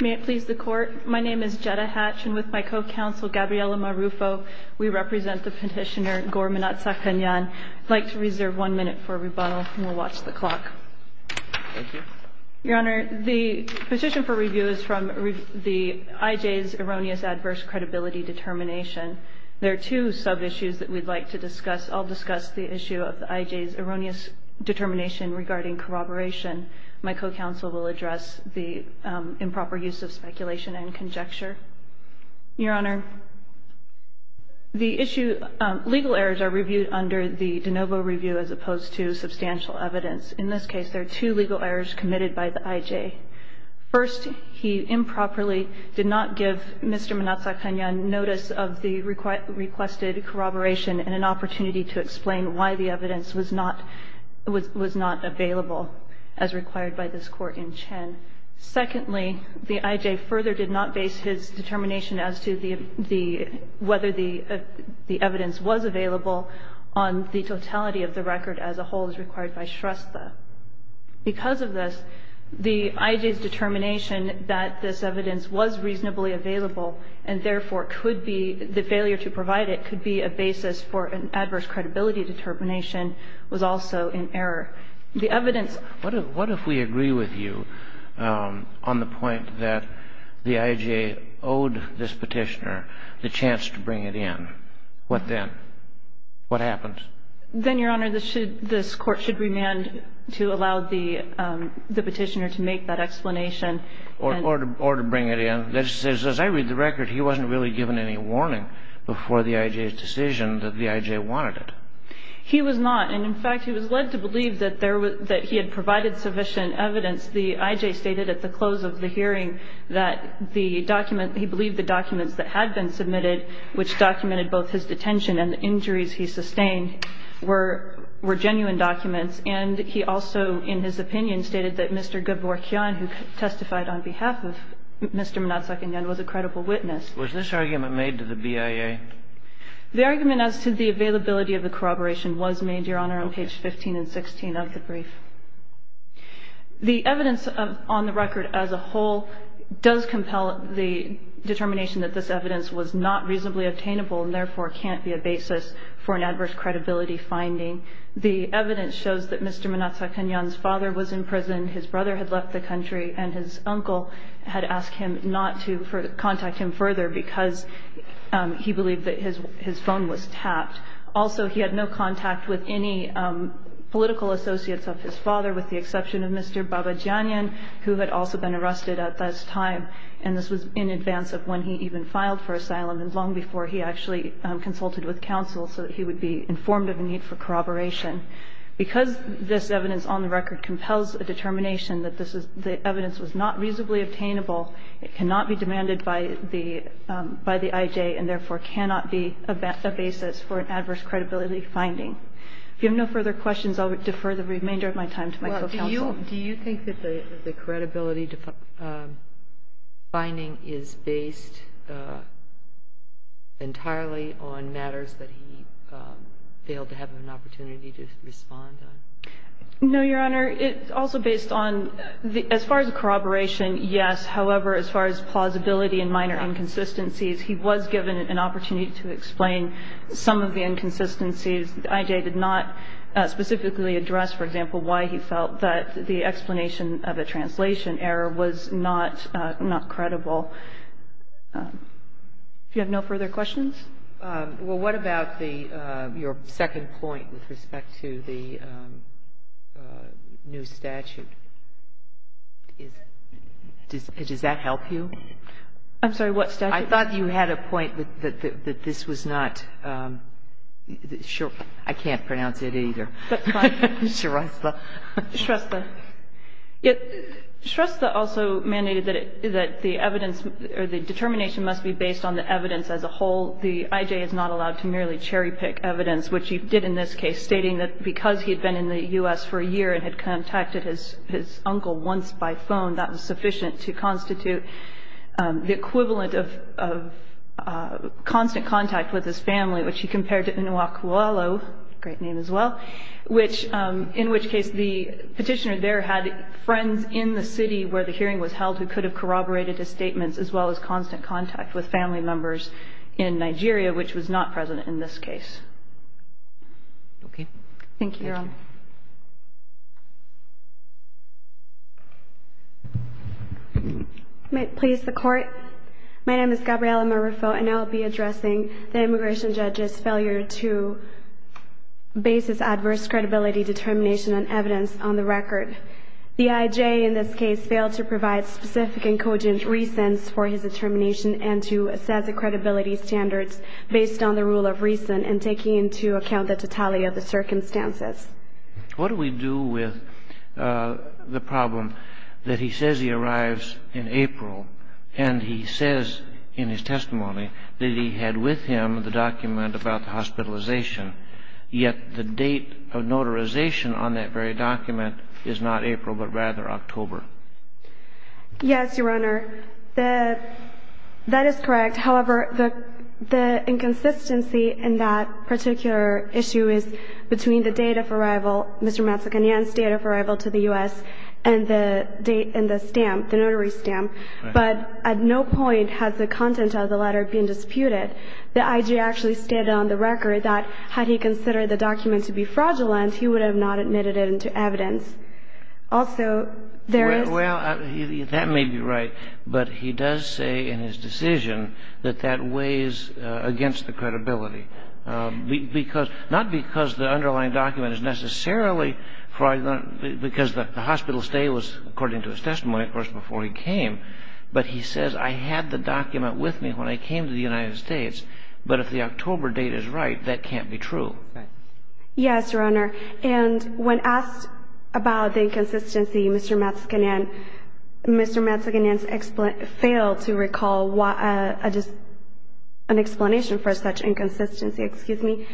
May it please the Court, my name is Jetta Hatch and with my co-counsel Gabriella Marufo, we represent the petitioner Gore Mnatsakanyan. I'd like to reserve one minute for rebuttal and we'll watch the clock. Your Honor, the petition for review is from the IJ's erroneous adverse credibility determination. There are two sub-issues that we'd like to discuss. I'll discuss the issue of the IJ's erroneous determination regarding corroboration. My co-counsel will address the improper use of speculation and conjecture. Your Honor, the issue, legal errors are reviewed under the de novo review as opposed to substantial evidence. In this case, there are two legal errors committed by the IJ. First, he improperly did not give Mr. Mnatsakanyan notice of the requested corroboration and an opportunity to explain why the evidence was not available as required by this court in Chen. Secondly, the IJ further did not base his determination as to whether the evidence was available on the totality of the record as a whole as required by Shrestha. Because of this, the IJ's determination that this evidence was reasonably available and therefore could be, the failure to provide it could be a basis for an adverse credibility determination was also in error. The evidence ---- What if we agree with you on the point that the IJ owed this Petitioner the chance to bring it in? What then? What happens? Then, Your Honor, this should, this Court should remand to allow the Petitioner to make that explanation and ---- Or to bring it in. As I read the record, he wasn't really given any warning before the IJ's decision that the IJ wanted it. He was not. And, in fact, he was led to believe that there was ---- that he had provided sufficient evidence. The IJ stated at the close of the hearing that the document ---- he believed the documents that had been submitted, which documented both his detention and the injuries he sustained, were genuine documents. And he also, in his opinion, stated that Mr. Gaborkyan, who testified on behalf of Mr. Mnatsakanyan, was a credible witness. Was this argument made to the BIA? The argument as to the availability of the corroboration was made, Your Honor, on page 15 and 16 of the brief. The evidence on the record as a whole does compel the determination that this evidence was not reasonably obtainable and, therefore, can't be a basis for an adverse credibility finding. The evidence shows that Mr. Mnatsakanyan's father was in prison, his brother had left the country, and his uncle had asked him not to contact him further because he believed that his phone was tapped. Also, he had no contact with any political associates of his father, with the exception of Mr. Babajanyan, who had also been arrested at this time. And this was in advance of when he even filed for asylum and long before he actually consulted with counsel so that he would be informed of a need for corroboration. Because this evidence on the record compels a determination that this is ---- the evidence was not reasonably obtainable, it cannot be demanded by the IJ, and, therefore, cannot be a basis for an adverse credibility finding. If you have no further questions, I'll defer the remainder of my time to my co-counsel. Kagan. Well, do you think that the credibility finding is based entirely on matters that he failed to have an opportunity to respond on? No, Your Honor. It's also based on the ---- as far as the corroboration, yes. However, as far as plausibility and minor inconsistencies, he was given an opportunity to explain some of the inconsistencies. The IJ did not specifically address, for example, why he felt that the explanation of a translation error was not credible. Do you have no further questions? Well, what about the ---- your second point with respect to the new statute? Does that help you? I'm sorry, what statute? I thought you had a point that this was not ---- I can't pronounce it either. That's fine. Shrestha. Shrestha. Shrestha also mandated that the evidence or the determination must be based on the evidence as a whole. The IJ is not allowed to merely cherry-pick evidence, which he did in this case, stating that because he had been in the U.S. for a year and had contacted his uncle once by phone, that was sufficient to constitute the equivalent of constant contact with his family, which he compared to Inouye Kualo, great name as well, which ---- in which case the petitioner there had friends in the city where the hearing was held who could have corroborated his statements as well as constant contact with family members in Nigeria, which was not present in this case. Thank you, Your Honor. May it please the Court? My name is Gabriella Marufo, and I will be addressing the immigration judge's failure to base his adverse credibility determination on evidence on the record. The IJ in this case failed to provide specific and cogent reasons for his determination and to assess the credibility standards based on the rule of reason and taking into account the totality of the circumstances. What do we do with the problem that he says he arrives in April and he says in his testimony that he had with him the document about the hospitalization, yet the date of arrival is not April, but rather October? Yes, Your Honor. That is correct. However, the inconsistency in that particular issue is between the date of arrival, Mr. Matsakanyan's date of arrival to the U.S., and the date in the stamp, the notary stamp. But at no point has the content of the letter been disputed. The IJ actually stated on the record that had he considered the document to be fraudulent, he would have not admitted it into evidence. Also, there is... Well, that may be right, but he does say in his decision that that weighs against the credibility, not because the underlying document is necessarily fraudulent, because the hospital stay was, according to his testimony, of course, before he came, but he says, I had the document with me when I came to the United States, but if the October date is right, that can't be true. Yes, Your Honor. And when asked about the inconsistency, Mr. Matsakanyan, Mr. Matsakanyan failed to recall an explanation for such inconsistency. Excuse me.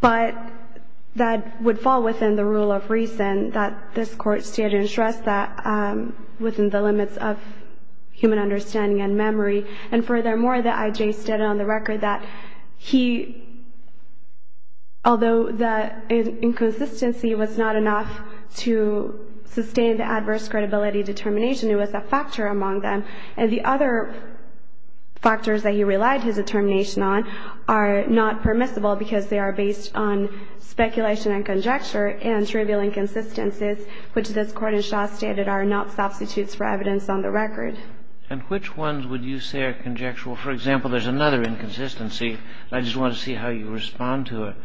But that would fall within the rule of reason that this Court stated and stressed that within the limits of human understanding and memory. And furthermore, the IJ stated on the record that he, although the inconsistency was not enough to sustain the adverse credibility determination, it was a factor among them. And the other factors that he relied his determination on are not permissible because they are based on speculation and conjecture and trivial inconsistencies, which this Court in Shaw stated are not substitutes for evidence on the record. And which ones would you say are conjectural? For example, there's another inconsistency. I just want to see how you respond to it.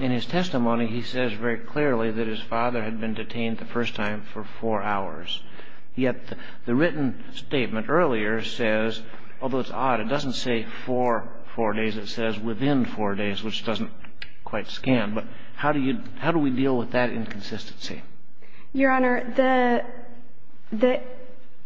In his testimony, he says very clearly that his father had been detained the first time for four hours. Yet the written statement earlier says, although it's odd, it doesn't say for four days. It says within four days, which doesn't quite scan. But how do we deal with that inconsistency? Your Honor, the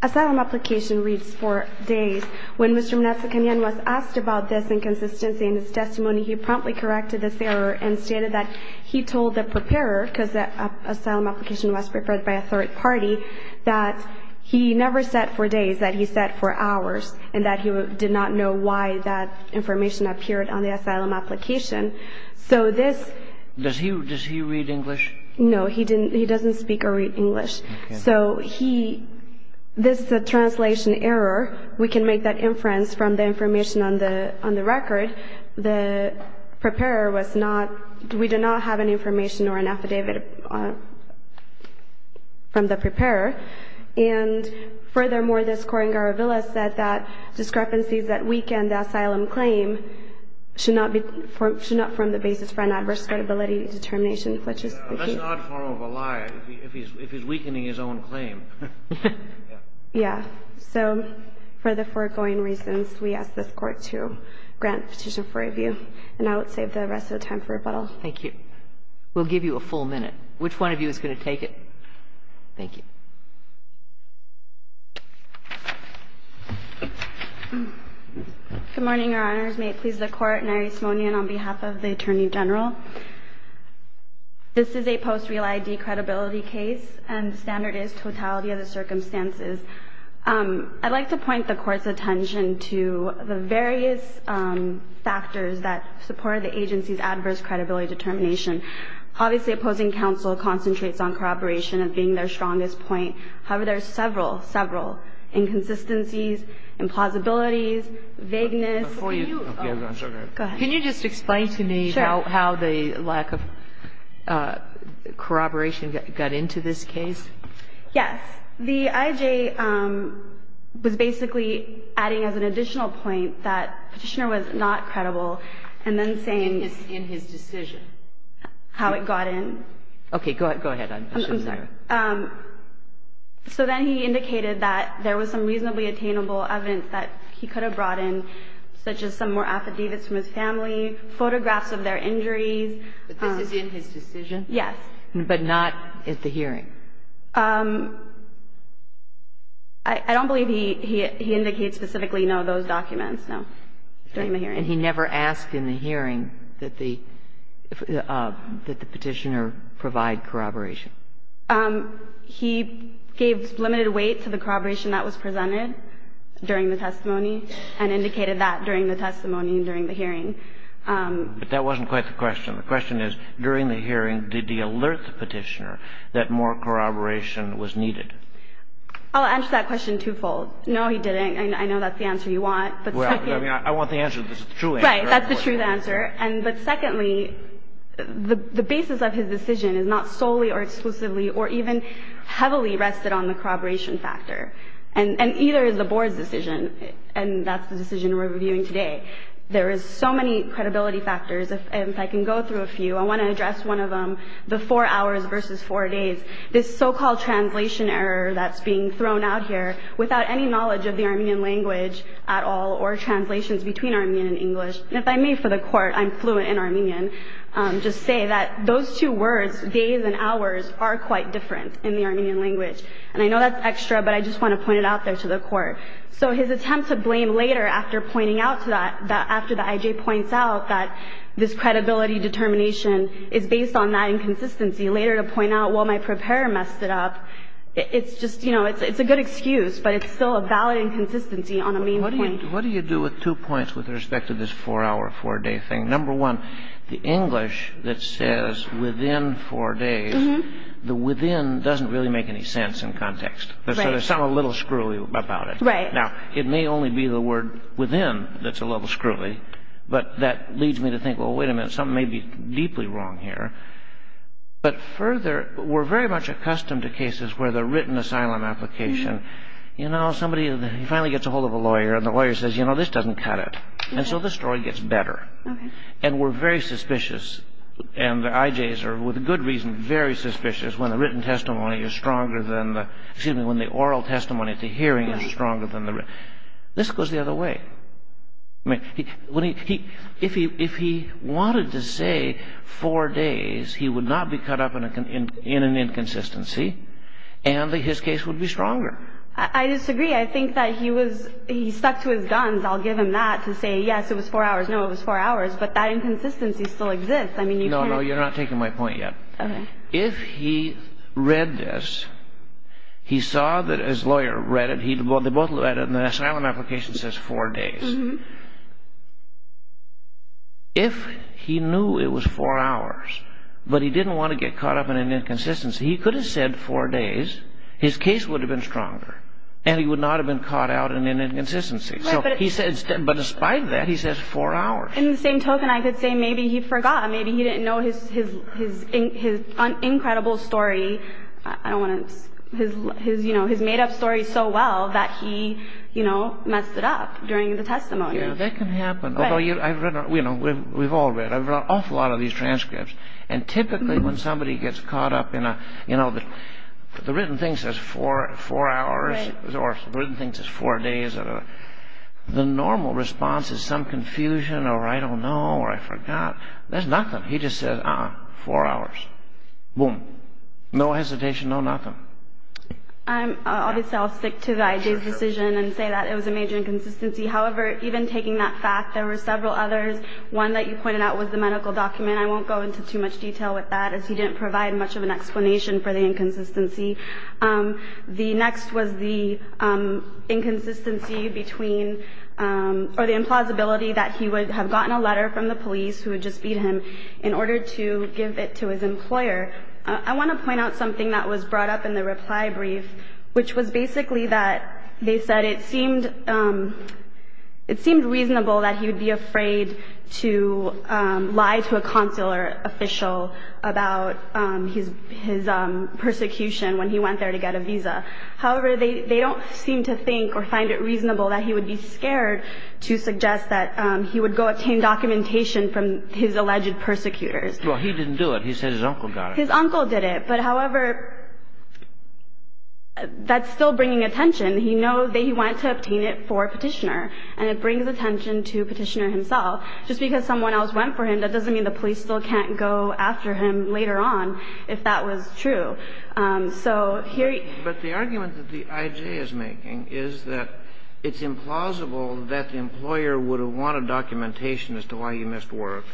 asylum application reads four days. When Mr. Manasseh-Kanyan was asked about this inconsistency in his testimony, he promptly corrected this error and stated that he told the preparer, because the asylum application was prepared by a third party, that he never said four days, that he said four hours, and that he did not know why that information appeared on the asylum application. So this — Does he read English? No. No, he doesn't speak or read English. Okay. So he — this is a translation error. We can make that inference from the information on the record. The preparer was not — we do not have any information or an affidavit from the preparer. And furthermore, the scoring Garavilla said that discrepancies that weaken the asylum claim should not form the basis for an adverse credibility determination, which is the case. That's an odd form of a lie, if he's weakening his own claim. Yeah. So for the foregoing reasons, we ask this Court to grant petition for review. And I would save the rest of the time for rebuttal. Thank you. We'll give you a full minute. Which one of you is going to take it? Thank you. Good morning, Your Honors. May it please the Court. Mary Simonian on behalf of the Attorney General. This is a post-real ID credibility case, and the standard is totality of the circumstances. I'd like to point the Court's attention to the various factors that support the agency's adverse credibility determination. Obviously, opposing counsel concentrates on corroboration as being their strongest point. However, there are several, several inconsistencies, implausibilities, vagueness. Before you — Go ahead. Can you just explain to me — Sure. — how the lack of corroboration got into this case? Yes. The IJ was basically adding as an additional point that Petitioner was not credible and then saying — In his decision. How it got in. Okay. Go ahead. I'm sorry. So then he indicated that there was some reasonably attainable evidence that he could have brought in, such as some more affidavits from his family, photographs of their injuries. But this is in his decision? Yes. But not at the hearing? I don't believe he indicates specifically, no, those documents, no, during the hearing. And he never asked in the hearing that the Petitioner provide corroboration? He gave limited weight to the corroboration that was presented during the testimony. And indicated that during the testimony and during the hearing. But that wasn't quite the question. The question is, during the hearing, did he alert the Petitioner that more corroboration was needed? I'll answer that question twofold. No, he didn't. I know that's the answer you want. Well, I mean, I want the answer that's the true answer. Right. That's the true answer. But secondly, the basis of his decision is not solely or exclusively or even heavily rested on the corroboration factor. And either is the Board's decision, and that's the decision we're reviewing today. There is so many credibility factors, and if I can go through a few, I want to address one of them, the four hours versus four days. This so-called translation error that's being thrown out here without any knowledge of the Armenian language at all or translations between Armenian and English. And if I may, for the court, I'm fluent in Armenian, just say that those two words, days and hours, are quite different in the Armenian language. And I know that's extra, but I just want to point it out there to the court. So his attempt to blame later after pointing out to that, after the I.J. points out that this credibility determination is based on that inconsistency, later to point out, well, my preparer messed it up, it's just, you know, it's a good excuse, but it's still a valid inconsistency on a main point. What do you do with two points with respect to this four-hour, four-day thing? Number one, the English that says within four days, the within doesn't really make any sense in context. Right. So there's something a little screwy about it. Right. Now, it may only be the word within that's a little screwy, but that leads me to think, well, wait a minute, something may be deeply wrong here. But further, we're very much accustomed to cases where the written asylum application, you know, somebody finally gets a hold of a lawyer and the lawyer says, you know, this doesn't cut it. And so the story gets better. Okay. And we're very suspicious, and the I.J.'s are, with good reason, very suspicious when the written testimony is stronger than the, excuse me, when the oral testimony, the hearing is stronger than the written. This goes the other way. I mean, if he wanted to say four days, he would not be cut up in an inconsistency, and his case would be stronger. I disagree. I think that he was, he stuck to his guns. I'll give him that to say, yes, it was four hours, no, it was four hours. But that inconsistency still exists. I mean, you can't. No, no, you're not taking my point yet. Okay. So if he read this, he saw that his lawyer read it. They both read it, and the asylum application says four days. If he knew it was four hours, but he didn't want to get caught up in an inconsistency, he could have said four days, his case would have been stronger, and he would not have been caught out in an inconsistency. But despite that, he says four hours. In the same token, I could say maybe he forgot. Maybe he didn't know his incredible story. I don't want to, his, you know, his made-up story so well that he, you know, messed it up during the testimony. Yeah, that can happen. Although I've read, you know, we've all read. I've read an awful lot of these transcripts. And typically when somebody gets caught up in a, you know, the written thing says four hours, or the written thing says four days. The normal response is some confusion, or I don't know, or I forgot. There's nothing. He just says, uh-uh, four hours. Boom. No hesitation, no nothing. Obviously, I'll stick to the IJ's decision and say that it was a major inconsistency. However, even taking that fact, there were several others. One that you pointed out was the medical document. I won't go into too much detail with that, as he didn't provide much of an explanation for the inconsistency. The next was the inconsistency between, or the implausibility that he would have gotten a letter from the police who had just beat him in order to give it to his employer. I want to point out something that was brought up in the reply brief, which was basically that they said it seemed reasonable that he would be afraid to lie to a consular official about his persecution when he went there to get a visa. However, they don't seem to think or find it reasonable that he would be scared to suggest that he would go obtain documentation from his alleged persecutors. Well, he didn't do it. He said his uncle got it. His uncle did it. But, however, that's still bringing attention. He knows that he wanted to obtain it for Petitioner, and it brings attention to Petitioner himself. Just because someone else went for him, that doesn't mean the police still can't go after him later on, if that was true. So here you go. But the argument that the I.J. is making is that it's implausible that the employer would have wanted documentation as to why he missed work,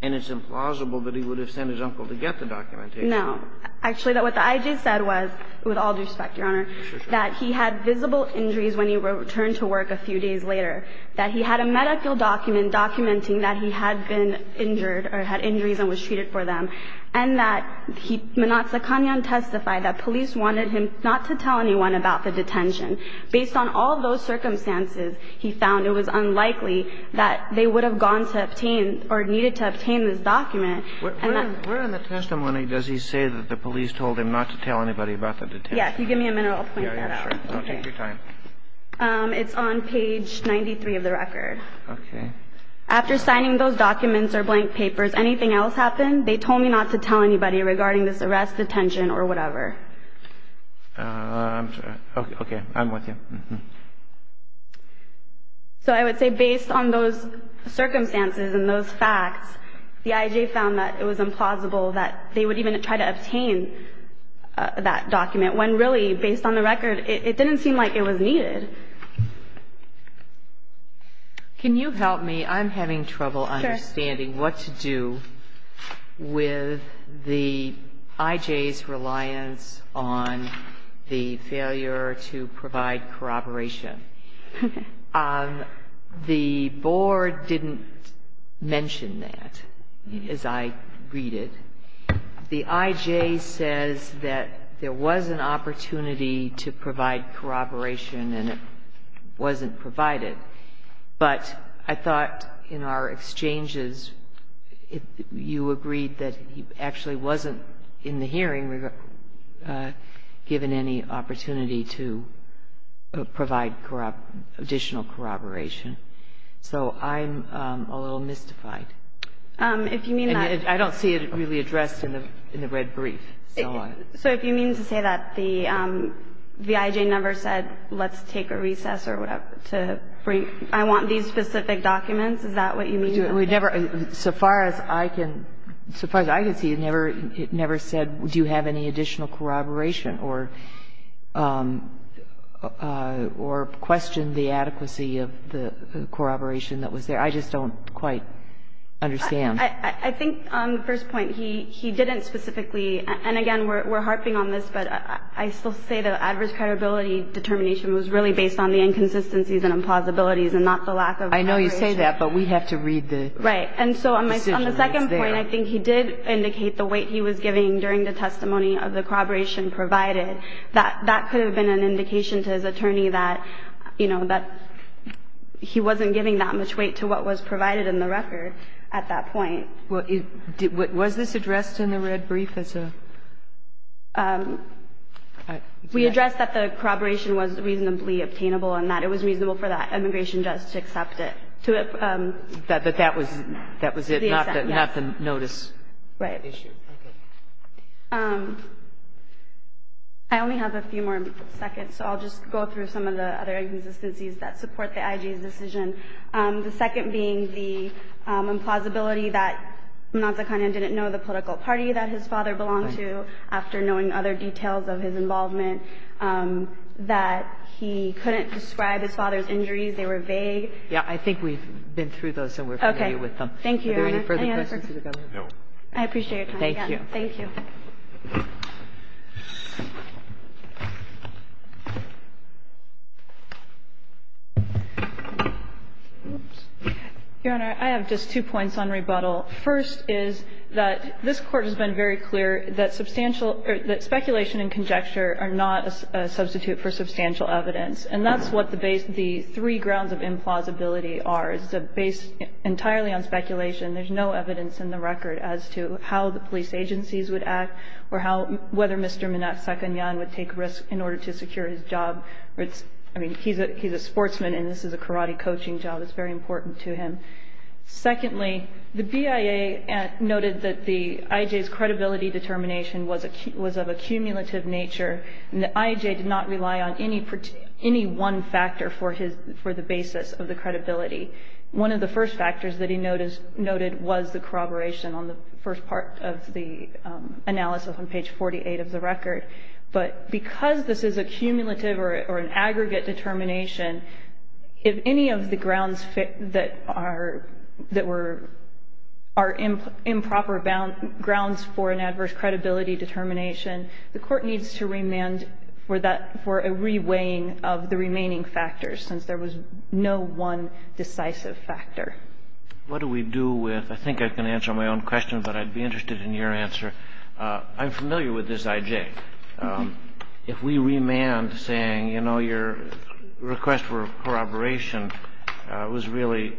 and it's implausible that he would have sent his uncle to get the documentation. No. Actually, what the I.J. said was, with all due respect, Your Honor, that he had visible injuries when he returned to work a few days later, that he had a medical document documenting that he had been injured or had injuries and was treated for them, and that Minatsa Kanyan testified that police wanted him not to tell anyone about the detention. Based on all those circumstances, he found it was unlikely that they would have gone to obtain or needed to obtain this document. Where in the testimony does he say that the police told him not to tell anybody about the detention? If you give me a minute, I'll point that out. Yeah, yeah, sure. Don't take your time. It's on page 93 of the record. Okay. After signing those documents or blank papers, anything else happen? They told me not to tell anybody regarding this arrest, detention, or whatever. I'm sorry. Okay. I'm with you. So I would say, based on those circumstances and those facts, the I.J. found that it was implausible that they would even try to obtain that document, when really, based on the record, it didn't seem like it was needed. Can you help me? I'm having trouble understanding what to do with the I.J.'s reliance on the failure to provide corroboration. The board didn't mention that, as I read it. The I.J. says that there was an opportunity to provide corroboration, and it wasn't provided. But I thought in our exchanges, you agreed that he actually wasn't, in the hearing, given any opportunity to provide additional corroboration. So I'm a little mystified. If you mean that ---- I don't see it really addressed in the red brief. So if you mean to say that the I.J. never said, let's take a recess or whatever to bring ---- I want these specific documents, is that what you mean? We never ---- so far as I can see, it never said, do you have any additional corroboration, or questioned the adequacy of the corroboration that was there. I just don't quite understand. I think on the first point, he didn't specifically ---- and again, we're harping on this, but I still say the adverse credibility determination was really based on the inconsistencies and implausibilities and not the lack of ---- I know you say that, but we have to read the ---- Right. And so on the second point, I think he did indicate the weight he was giving during the testimony of the corroboration provided. That could have been an indication to his attorney that, you know, that he wasn't giving that much weight to what was provided in the record at that point. Was this addressed in the red brief as a ---- We addressed that the corroboration was reasonably obtainable and that it was reasonable for that immigration judge to accept it, to ---- That that was it, not the notice issue. Right. Okay. I only have a few more seconds, so I'll just go through some of the other inconsistencies that support the IG's decision, the second being the implausibility that Mazakana didn't know the political party that his father belonged to after knowing other details of his involvement, that he couldn't describe his father's injuries, they were vague. Yeah. I think we've been through those and we're familiar with them. Okay. Thank you, Your Honor. Any other questions? No. I appreciate your time. Thank you. Thank you. Your Honor, I have just two points on rebuttal. First is that this Court has been very clear that substantial or that speculation and conjecture are not a substitute for substantial evidence. And that's what the three grounds of implausibility are. It's based entirely on speculation. There's no evidence in the record as to how the police agencies would act or whether Mr. Mazakana would take risks in order to secure his job. I mean, he's a sportsman and this is a karate coaching job. It's very important to him. Secondly, the BIA noted that the IJ's credibility determination was of a cumulative nature and the IJ did not rely on any one factor for the basis of the credibility. One of the first factors that he noted was the corroboration on the first part of the analysis on page 48 of the record. But because this is a cumulative or an aggregate determination, if any of the grounds that were improper grounds for an adverse credibility determination, the Court needs to What do we do with, I think I can answer my own question, but I'd be interested in your answer. I'm familiar with this IJ. If we remand saying, you know, your request for corroboration was really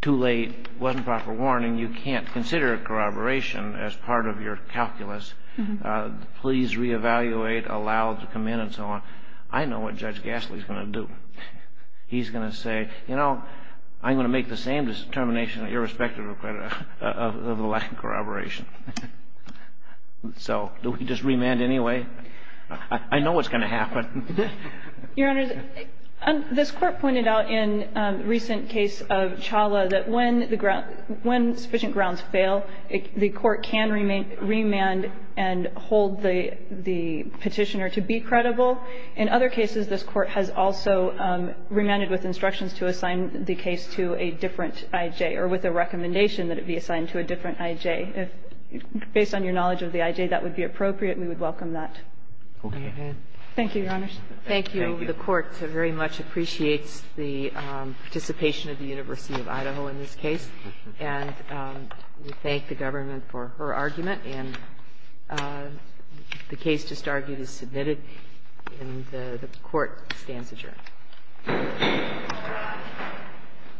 too late, wasn't proper warning, you can't consider corroboration as part of your calculus, please reevaluate, allow to come in and so on, I know what Judge Gasly is going to do. He's going to say, you know, I'm going to make the same determination irrespective of the lack of corroboration. So do we just remand anyway? I know what's going to happen. Your Honor, this Court pointed out in the recent case of Chawla that when sufficient grounds fail, the Court can remand and hold the petitioner to be credible. In other cases, this Court has also remanded with instructions to assign the case to a different IJ or with a recommendation that it be assigned to a different IJ. If, based on your knowledge of the IJ, that would be appropriate, we would welcome that. Thank you, Your Honors. Thank you. The Court very much appreciates the participation of the University of Idaho in this case, and we thank the government for her argument. And the case just argued is submitted, and the Court stands adjourned.